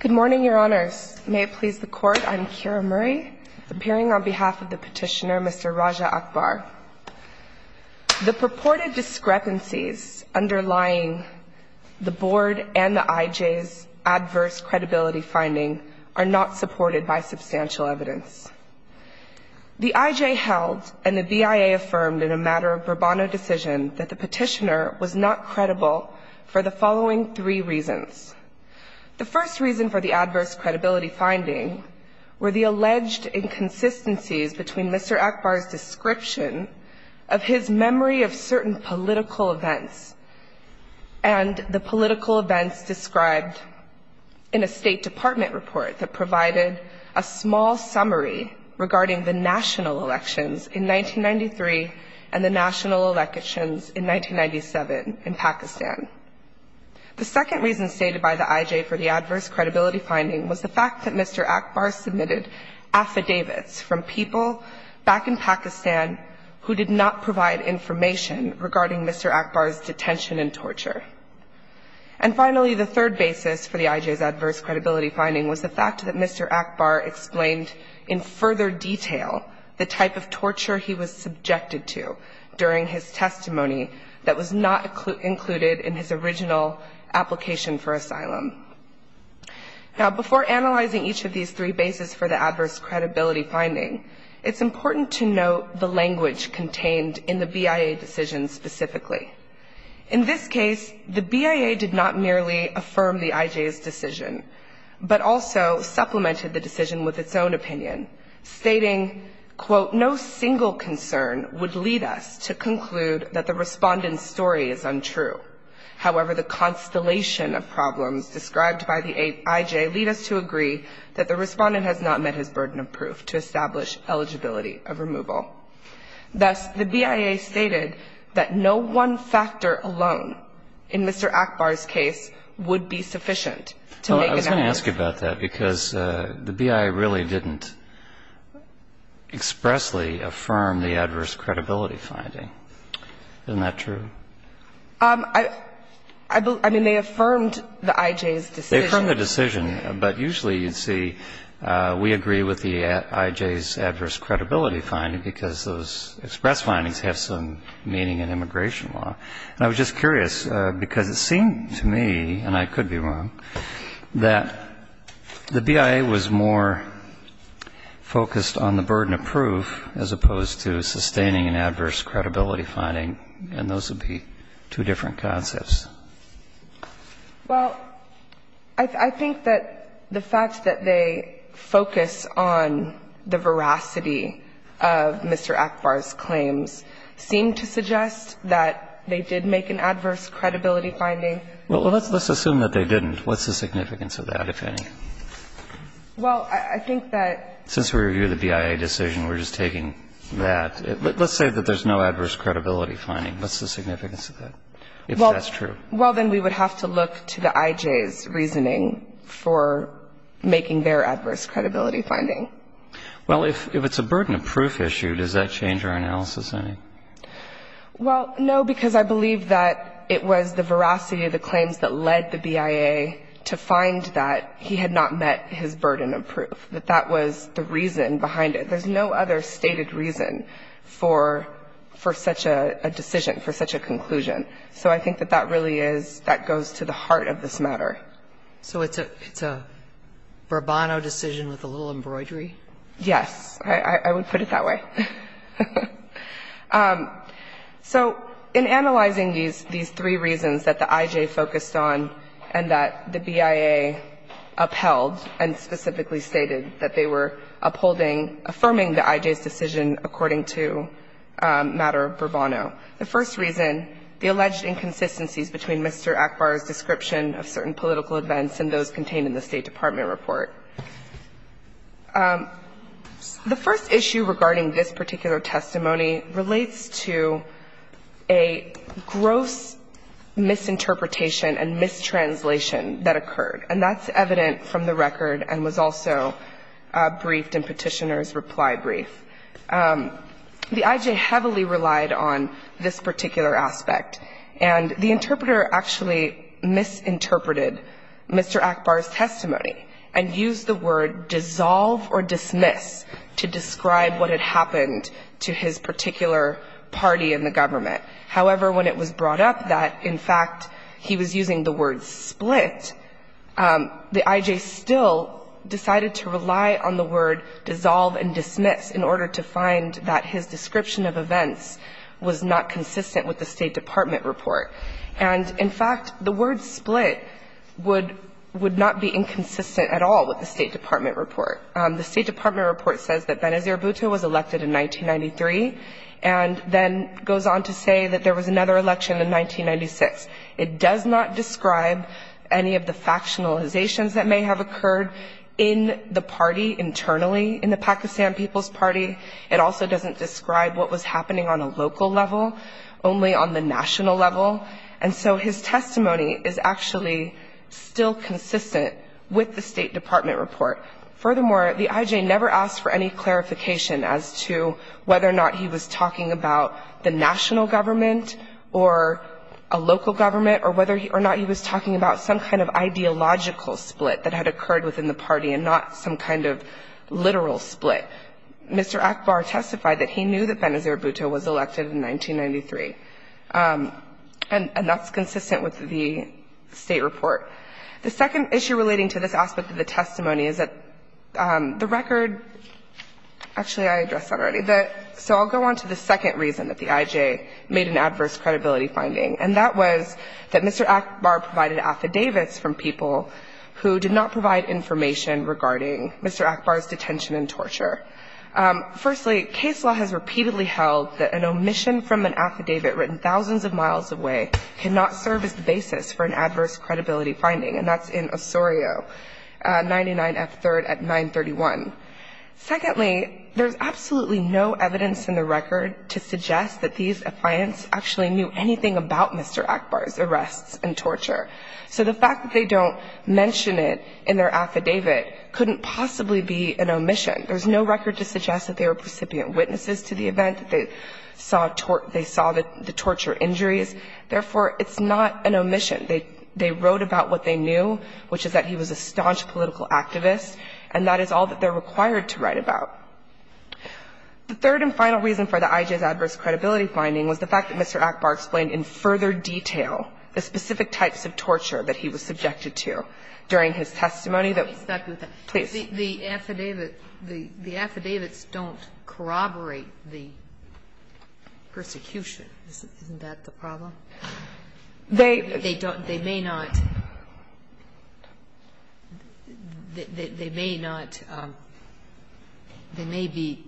Good morning, Your Honors. May it please the Court, I'm Kira Murray, appearing on behalf of the petitioner, Mr. Raja Akbar. The purported discrepancies underlying the Board and the IJ's adverse credibility finding are not supported by substantial evidence. The IJ held, and the BIA affirmed in a matter of Bourbon decision, that the petitioner was not credible for the following three reasons. The first reason for the adverse credibility finding were the alleged inconsistencies between Mr. Akbar's description of his memory of certain political events and the political events described in a State Department report that provided a small summary regarding the incident. The second reason for the adverse credibility finding was the fact that Mr. Akbar submitted affidavits from people back in Pakistan who did not provide information regarding Mr. Akbar's detention and torture. And finally, the third basis for the IJ's adverse credibility finding was the fact that Mr. Akbar explained in further detail the type of torture he was subjected to during his testimony that was not included in his original application for asylum. Now, before analyzing each of these three bases for the adverse credibility finding, it's important to note the language contained in the BIA decision specifically. In this case, the BIA did not merely affirm the IJ's decision, but also supplemented the decision with its own claim. The BIA's claim that the IJ's decision was based on a personal concern would lead us to conclude that the Respondent's story is untrue. However, the constellation of problems described by the IJ lead us to agree that the Respondent has not met his burden of proof to establish eligibility of removal. Thus, the BIA stated that no one factor alone in Mr. Akbar's case would be sufficient to make an effort. Now, let me ask you about that, because the BIA really didn't expressly affirm the adverse credibility finding. Isn't that true? I mean, they affirmed the IJ's decision. They affirmed the decision, but usually, you'd see we agree with the IJ's adverse credibility finding because those express findings have some meaning in immigration law. And I was just curious, because it seemed to me, and I could be wrong, that the BIA was more focused on the burden of proof as opposed to sustaining an adverse credibility finding, and those would be two different concepts. Well, I think that the fact that they focus on the veracity of Mr. Akbar's claims seemed to suggest that they did make an adverse credibility finding. Well, let's assume that they didn't. What's the significance of that, if any? Well, I think that... Since we review the BIA decision, we're just taking that. Let's say that there's no adverse credibility finding. What's the significance of that, if that's true? Well, then we would have to look to the IJ's reasoning for making their adverse credibility finding. Well, if it's a burden of proof issue, does that change our analysis, any? Well, no, because I believe that it was the veracity of the claims that led the BIA to find that he had not met his burden of proof, that that was the reason behind it. There's no other stated reason for such a decision, for such a conclusion. So I think that that really is, that goes to the heart of this matter. All right. So it's a bravado decision with a little embroidery? Yes. I would put it that way. So in analyzing these three reasons that the IJ focused on and that the BIA upheld and specifically stated that they were upholding, affirming the IJ's decision according to matter bravado, the first reason, the alleged inconsistencies between Mr. Akbar's description of certain political events and those contained in the State Department report. The first issue regarding this particular testimony relates to a gross misinterpretation and mistranslation that occurred. And that's evident from the record and was also briefed in Petitioner's reply brief. The IJ heavily relied on this particular aspect. And the interpreter actually misinterpreted Mr. Akbar's testimony and used the word dissolve or dismiss to describe what had happened to his particular party in the government. However, when it was brought up that, in fact, he was using the word split, the IJ still decided to rely on the word dissolve and dismiss in order to find that his description of events was not consistent with the State Department report. And, in fact, the word split would not be inconsistent at all with the State Department report. The State Department report says that Benazir Bhutto was elected in 1993 and then goes on to say that there was another election in 1996. It does not describe any of the factionalizations that may have occurred in the party internally, in the Pakistan People's Party. It also doesn't describe what was happening on a local level, only on the national level. And so his testimony is actually still consistent with the State Department report. Furthermore, the IJ never asked for any clarification as to whether or not he was talking about the national government or a local government or whether or not he was talking about some kind of ideological split that had occurred within the party and not some kind of literal split. Mr. Akbar testified that he knew that Benazir Bhutto was elected in 1993, and that's consistent with the State report. The second issue relating to this aspect of the testimony is that the record Actually, I addressed that already. So I'll go on to the second reason that the IJ made an adverse credibility finding, and that was that Mr. Akbar provided affidavits from people who did not provide information regarding Mr. Akbar's detention and torture. Firstly, case law has repeatedly held that an omission from an affidavit written thousands of miles away cannot serve as the basis for an adverse credibility finding, and that's in Osorio 99F3rd at 931. Secondly, there's absolutely no evidence in the record to suggest that these clients actually knew anything about Mr. Akbar's arrests and torture. So the fact that they don't mention it in their affidavit couldn't possibly be an omission. There's no record to suggest that they were precipient witnesses to the event, that they saw the torture injuries. Therefore, it's not an omission. They wrote about what they knew, which is that he was a staunch political activist, and that is all that they're required to write about. The third and final reason for the IJ's adverse credibility finding was the fact that Mr. Akbar explained in further detail the specific types of torture that he was subjected to during his testimony that was. Please. The affidavit, the affidavits don't corroborate the persecution. Isn't that the problem? They don't. They may not. They may not. They may be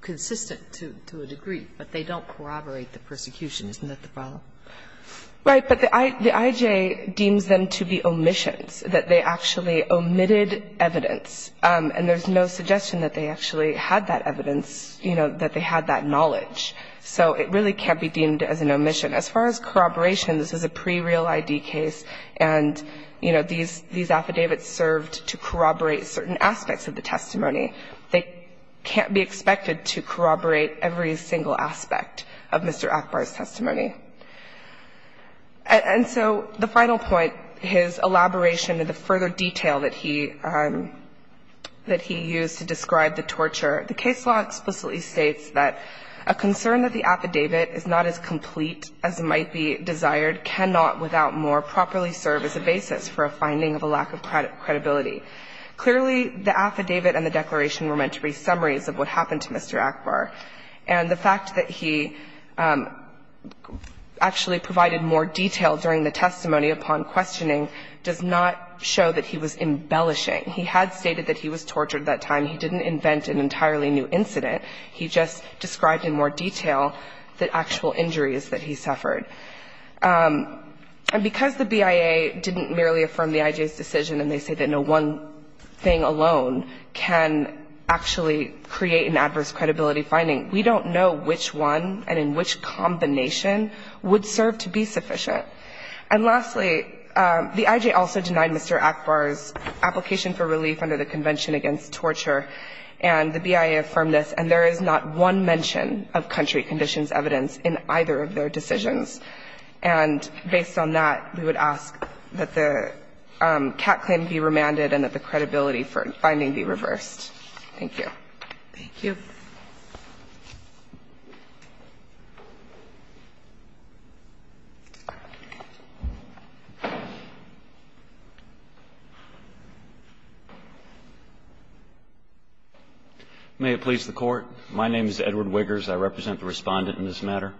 consistent to a degree, but they don't corroborate the persecution. Isn't that the problem? Right. But the IJ deems them to be omissions, that they actually omitted evidence. And there's no suggestion that they actually had that evidence, you know, that they had that knowledge. So it really can't be deemed as an omission. As far as corroboration, this is a pre-real ID case, and, you know, these affidavits served to corroborate certain aspects of the testimony. They can't be expected to corroborate every single aspect of Mr. Akbar's testimony. And so the final point, his elaboration and the further detail that he used to describe the torture, the case law explicitly states that a concern that the affidavit is not as complete as might be desired cannot, without more, properly serve as a basis for a finding of a lack of credibility. Clearly, the affidavit and the declaration were meant to be summaries of what happened to Mr. Akbar, and the fact that he actually provided more detail during the testimony upon questioning does not show that he was embellishing. He had stated that he was tortured at that time. He didn't invent an entirely new incident. He just described in more detail the actual injuries that he suffered. And because the BIA didn't merely affirm the IJ's decision and they say that no one thing alone can actually create an adverse credibility finding, we don't know which one and in which combination would serve to be sufficient. And lastly, the IJ also denied Mr. Akbar's application for relief under the Convention Against Torture, and the BIA affirmed this, and there is not one mention of country conditions evidence in either of their decisions. And based on that, we would ask that the CAT claim be remanded and that the credibility for finding be reversed. Thank you. May it please the Court. My name is Edward Wiggers. I represent the Respondent in this matter.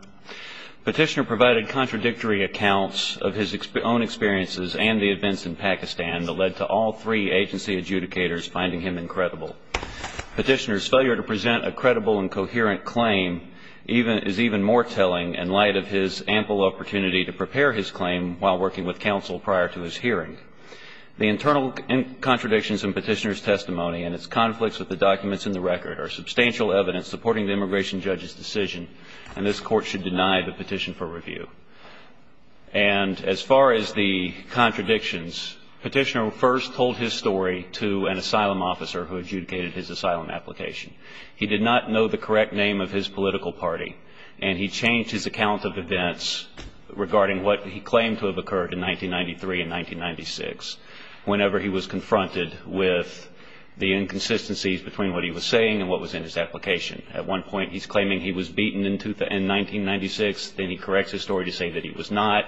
Petitioner provided contradictory accounts of his own experiences and the events in Pakistan that led to all three agency adjudicators finding him incredible. Petitioner's failure to present a credible and coherent claim is even more telling in light of his ample opportunity to prepare his claim while working with counsel prior to his hearing. The internal contradictions in Petitioner's testimony and its conflicts with the documents in the record are substantial evidence supporting the immigration judge's decision, and this Court should deny the petition for review. And as far as the contradictions, Petitioner first told his story to an asylum officer who adjudicated his asylum application. He did not know the correct name of his political party, and he changed his account of events regarding what he claimed to have occurred in 1993 and 1996 whenever he was confronted with the inconsistencies between what he was saying and what was in his application. At one point he's claiming he was beaten in 1996. Then he corrects his story to say that he was not.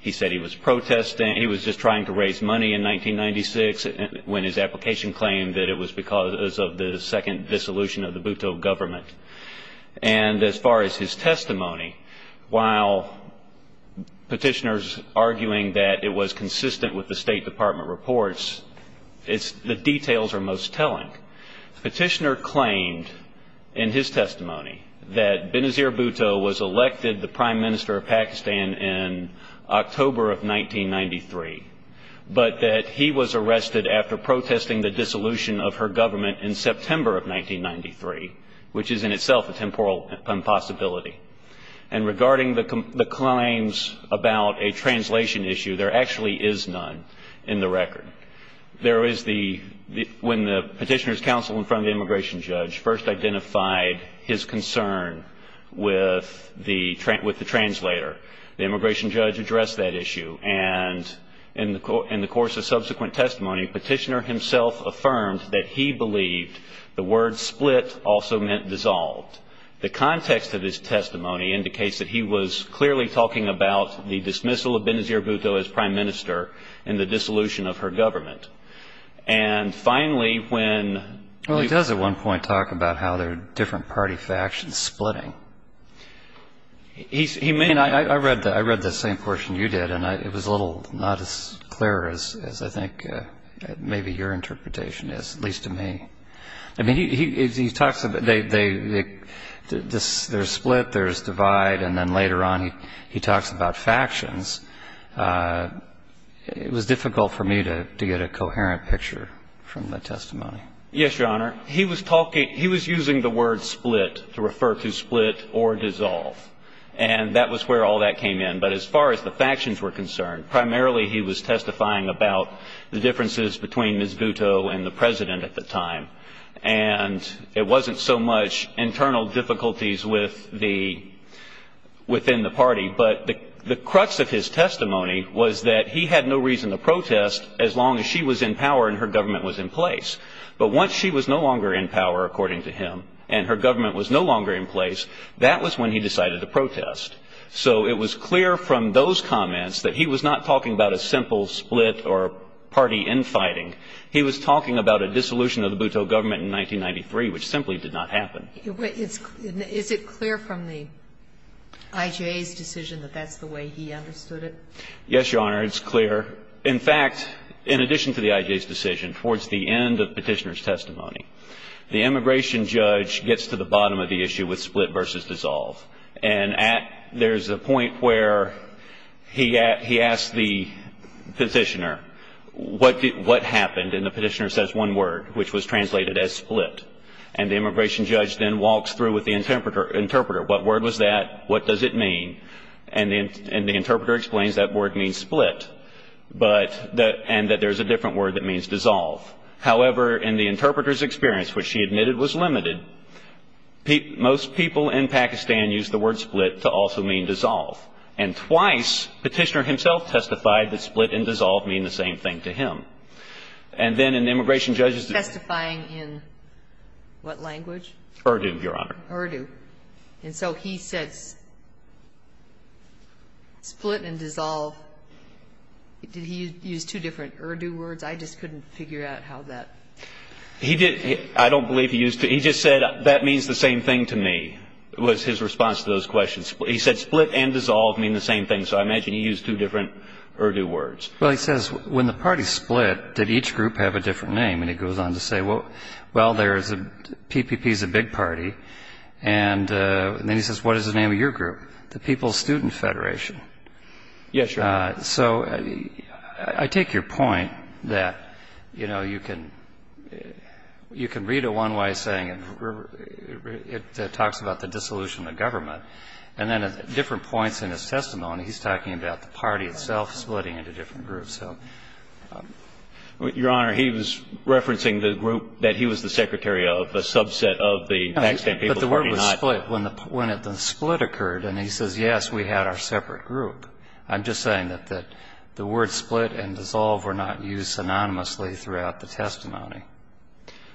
He said he was protesting. in 1996 when his application claimed that it was because of the second dissolution of the Bhutto government. And as far as his testimony, while Petitioner's arguing that it was consistent with the State Department reports, the details are most telling. Petitioner claimed in his testimony that Benazir Bhutto was elected the prime minister of Pakistan in October of 1993, but that he was arrested after protesting the dissolution of her government in September of 1993, which is in itself a temporal impossibility. And regarding the claims about a translation issue, there actually is none in the record. There is the, when the Petitioner's counsel in front of the immigration judge first identified his concern with the translator. The immigration judge addressed that issue. And in the course of subsequent testimony, Petitioner himself affirmed that he believed the word split also meant dissolved. The context of his testimony indicates that he was clearly talking about the dismissal of Benazir Bhutto as prime minister and the dissolution of her government. And finally, when... Well, he does at one point talk about how there are different party factions splitting. I read the same portion you did, and it was a little not as clear as I think maybe your interpretation is, at least to me. I mean, he talks about there's split, there's divide, and then later on he talks about factions. It was difficult for me to get a coherent picture from the testimony. Yes, Your Honor. He was talking, he was using the word split to refer to split or dissolve. And that was where all that came in. But as far as the factions were concerned, primarily he was testifying about the differences between Ms. Bhutto and the President at the time. And it wasn't so much internal difficulties within the party, but the crux of his testimony was that he had no reason to protest as long as she was in power and her government was in place. But once she was no longer in power, according to him, and her government was no longer in place, that was when he decided to protest. So it was clear from those comments that he was not talking about a simple split or party infighting. He was talking about a dissolution of the Bhutto government in 1993, which simply did not happen. Is it clear from the IJA's decision that that's the way he understood it? Yes, Your Honor. It's clear. In fact, in addition to the IJA's decision, towards the end of Petitioner's testimony, the immigration judge gets to the bottom of the issue with split versus dissolve. And there's a point where he asks the petitioner, what happened? And the petitioner says one word, which was translated as split. And the immigration judge then walks through with the interpreter, what word was that? What does it mean? And the interpreter explains that word means split, and that there's a different word that means dissolve. However, in the interpreter's experience, which she admitted was limited, most people in Pakistan use the word split to also mean dissolve. And twice, Petitioner himself testified that split and dissolve mean the same thing to him. And then an immigration judge is justifying in what language? Urdu, Your Honor. Urdu. And so he says split and dissolve. Did he use two different Urdu words? I just couldn't figure out how that. I don't believe he used two. He just said that means the same thing to me was his response to those questions. He said split and dissolve mean the same thing. So I imagine he used two different Urdu words. Well, he says when the parties split, did each group have a different name? And he goes on to say, well, PPP is a big party. And then he says, what is the name of your group? The People's Student Federation. Yes, Your Honor. So I take your point that, you know, you can read it one way, saying it talks about the dissolution of government. And then at different points in his testimony, he's talking about the party itself splitting into different groups. Your Honor, he was referencing the group that he was the secretary of, the subset of the Pakistan People's Party. But the word was split when the split occurred. And he says, yes, we had our separate group. I'm just saying that the word split and dissolve were not used synonymously throughout the testimony.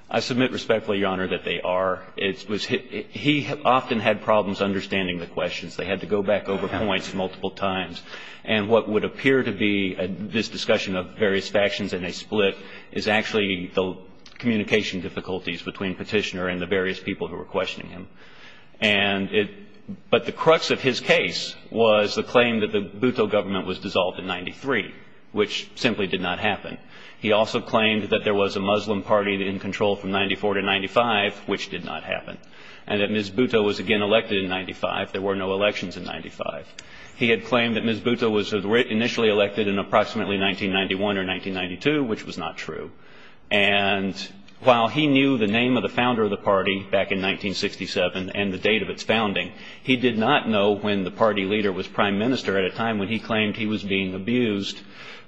I submit respectfully, Your Honor, that they are. He often had problems understanding the questions. They had to go back over points multiple times. And what would appear to be this discussion of various factions and they split is actually the communication difficulties between Petitioner and the various people who were questioning him. But the crux of his case was the claim that the Bhutto government was dissolved in 93, which simply did not happen. He also claimed that there was a Muslim party in control from 94 to 95, which did not happen, and that Ms. Bhutto was again elected in 95. There were no elections in 95. He had claimed that Ms. Bhutto was initially elected in approximately 1991 or 1992, which was not true. And while he knew the name of the founder of the party back in 1967 and the date of its founding, he did not know when the party leader was prime minister at a time when he claimed he was being abused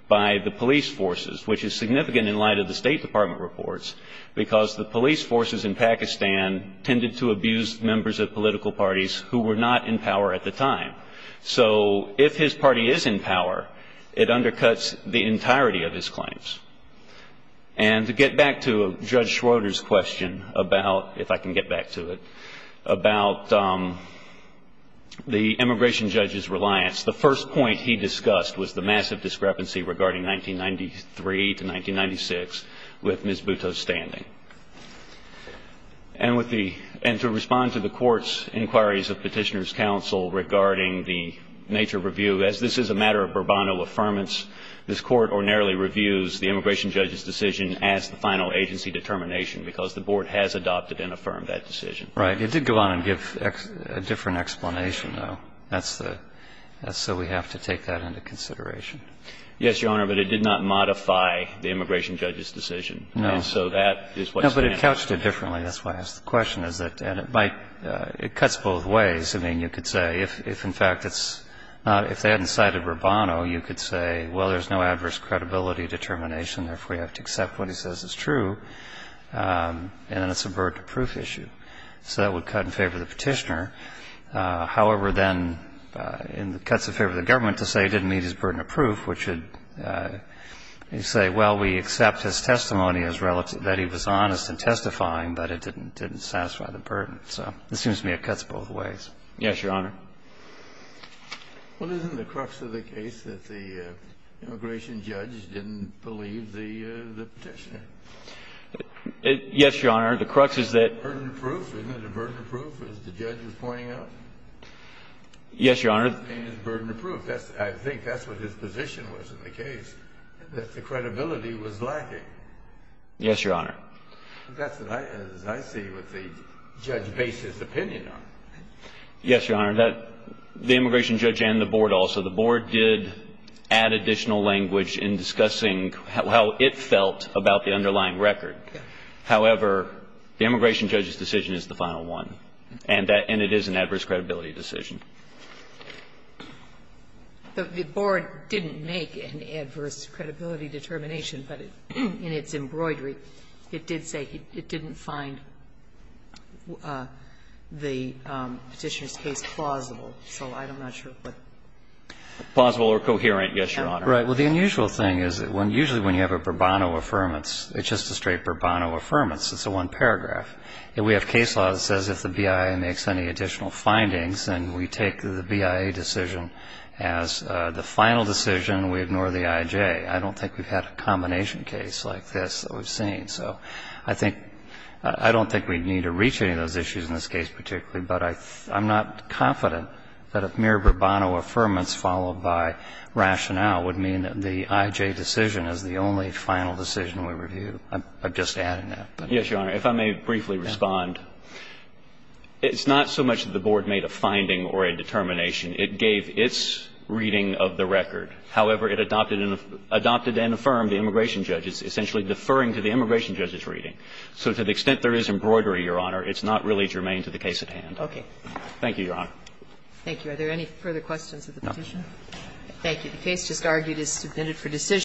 by the police forces, which is significant in light of the State Department reports because the police forces in Pakistan tended to abuse members of political parties who were not in power at the time. So if his party is in power, it undercuts the entirety of his claims. And to get back to Judge Schroeder's question about, if I can get back to it, about the immigration judge's reliance, the first point he discussed was the massive discrepancy regarding 1993 to 1996 with Ms. Bhutto's standing. And to respond to the Court's inquiries of Petitioner's Counsel regarding the nature of review, as this is a matter of Bourbonnoe affirmance, this Court ordinarily reviews the immigration judge's decision as the final agency determination because the Board has adopted and affirmed that decision. Right. It did go on and give a different explanation, though. That's the – so we have to take that into consideration. Yes, Your Honor, but it did not modify the immigration judge's decision. No. And so that is what stands. No, but it couched it differently. That's why I asked the question. And it might – it cuts both ways. I mean, you could say if, in fact, it's – if they hadn't cited Bourbonnoe, you could say, well, there's no adverse credibility determination, therefore, you have to accept what he says is true, and then it's a burden of proof issue. So that would cut in favor of the Petitioner. However, then it cuts in favor of the government to say it didn't meet his burden of proof, which would say, well, we accept his testimony as relative – that he was honest in testifying, but it didn't satisfy the burden. So it seems to me it cuts both ways. Yes, Your Honor. Well, isn't the crux of the case that the immigration judge didn't believe the Petitioner? Yes, Your Honor. The crux is that – Burden of proof. Isn't it a burden of proof, as the judge was pointing out? Yes, Your Honor. Burden of proof. I think that's what his position was in the case, that the credibility was lacking. Yes, Your Honor. That's what I – as I see what the judge based his opinion on. Yes, Your Honor. The immigration judge and the board also. The board did add additional language in discussing how it felt about the underlying record. However, the immigration judge's decision is the final one, and it is an adverse credibility decision. The board didn't make an adverse credibility determination, but in its embroidery it did say it didn't find the Petitioner's case plausible. So I'm not sure what – Plausible or coherent. Yes, Your Honor. Right. Well, the unusual thing is that when – usually when you have a Bourbonno affirmance, it's just a straight Bourbonno affirmance. It's a one paragraph. We have case law that says if the BIA makes any additional findings, then we take the BIA decision as the final decision. We ignore the IJ. I don't think we've had a combination case like this that we've seen. So I think – I don't think we need to reach any of those issues in this case particularly, but I'm not confident that a mere Bourbonno affirmance followed by rationale would mean that the IJ decision is the only final decision we review. I'm just adding that. Yes, Your Honor. If I may briefly respond. It's not so much that the board made a finding or a determination. It gave its reading of the record. However, it adopted and affirmed the immigration judge's, essentially deferring to the immigration judge's reading. So to the extent there is embroidery, Your Honor, it's not really germane to the case at hand. Okay. Thank you, Your Honor. Thank you. Are there any further questions of the petition? Thank you. The case just argued is submitted for decision.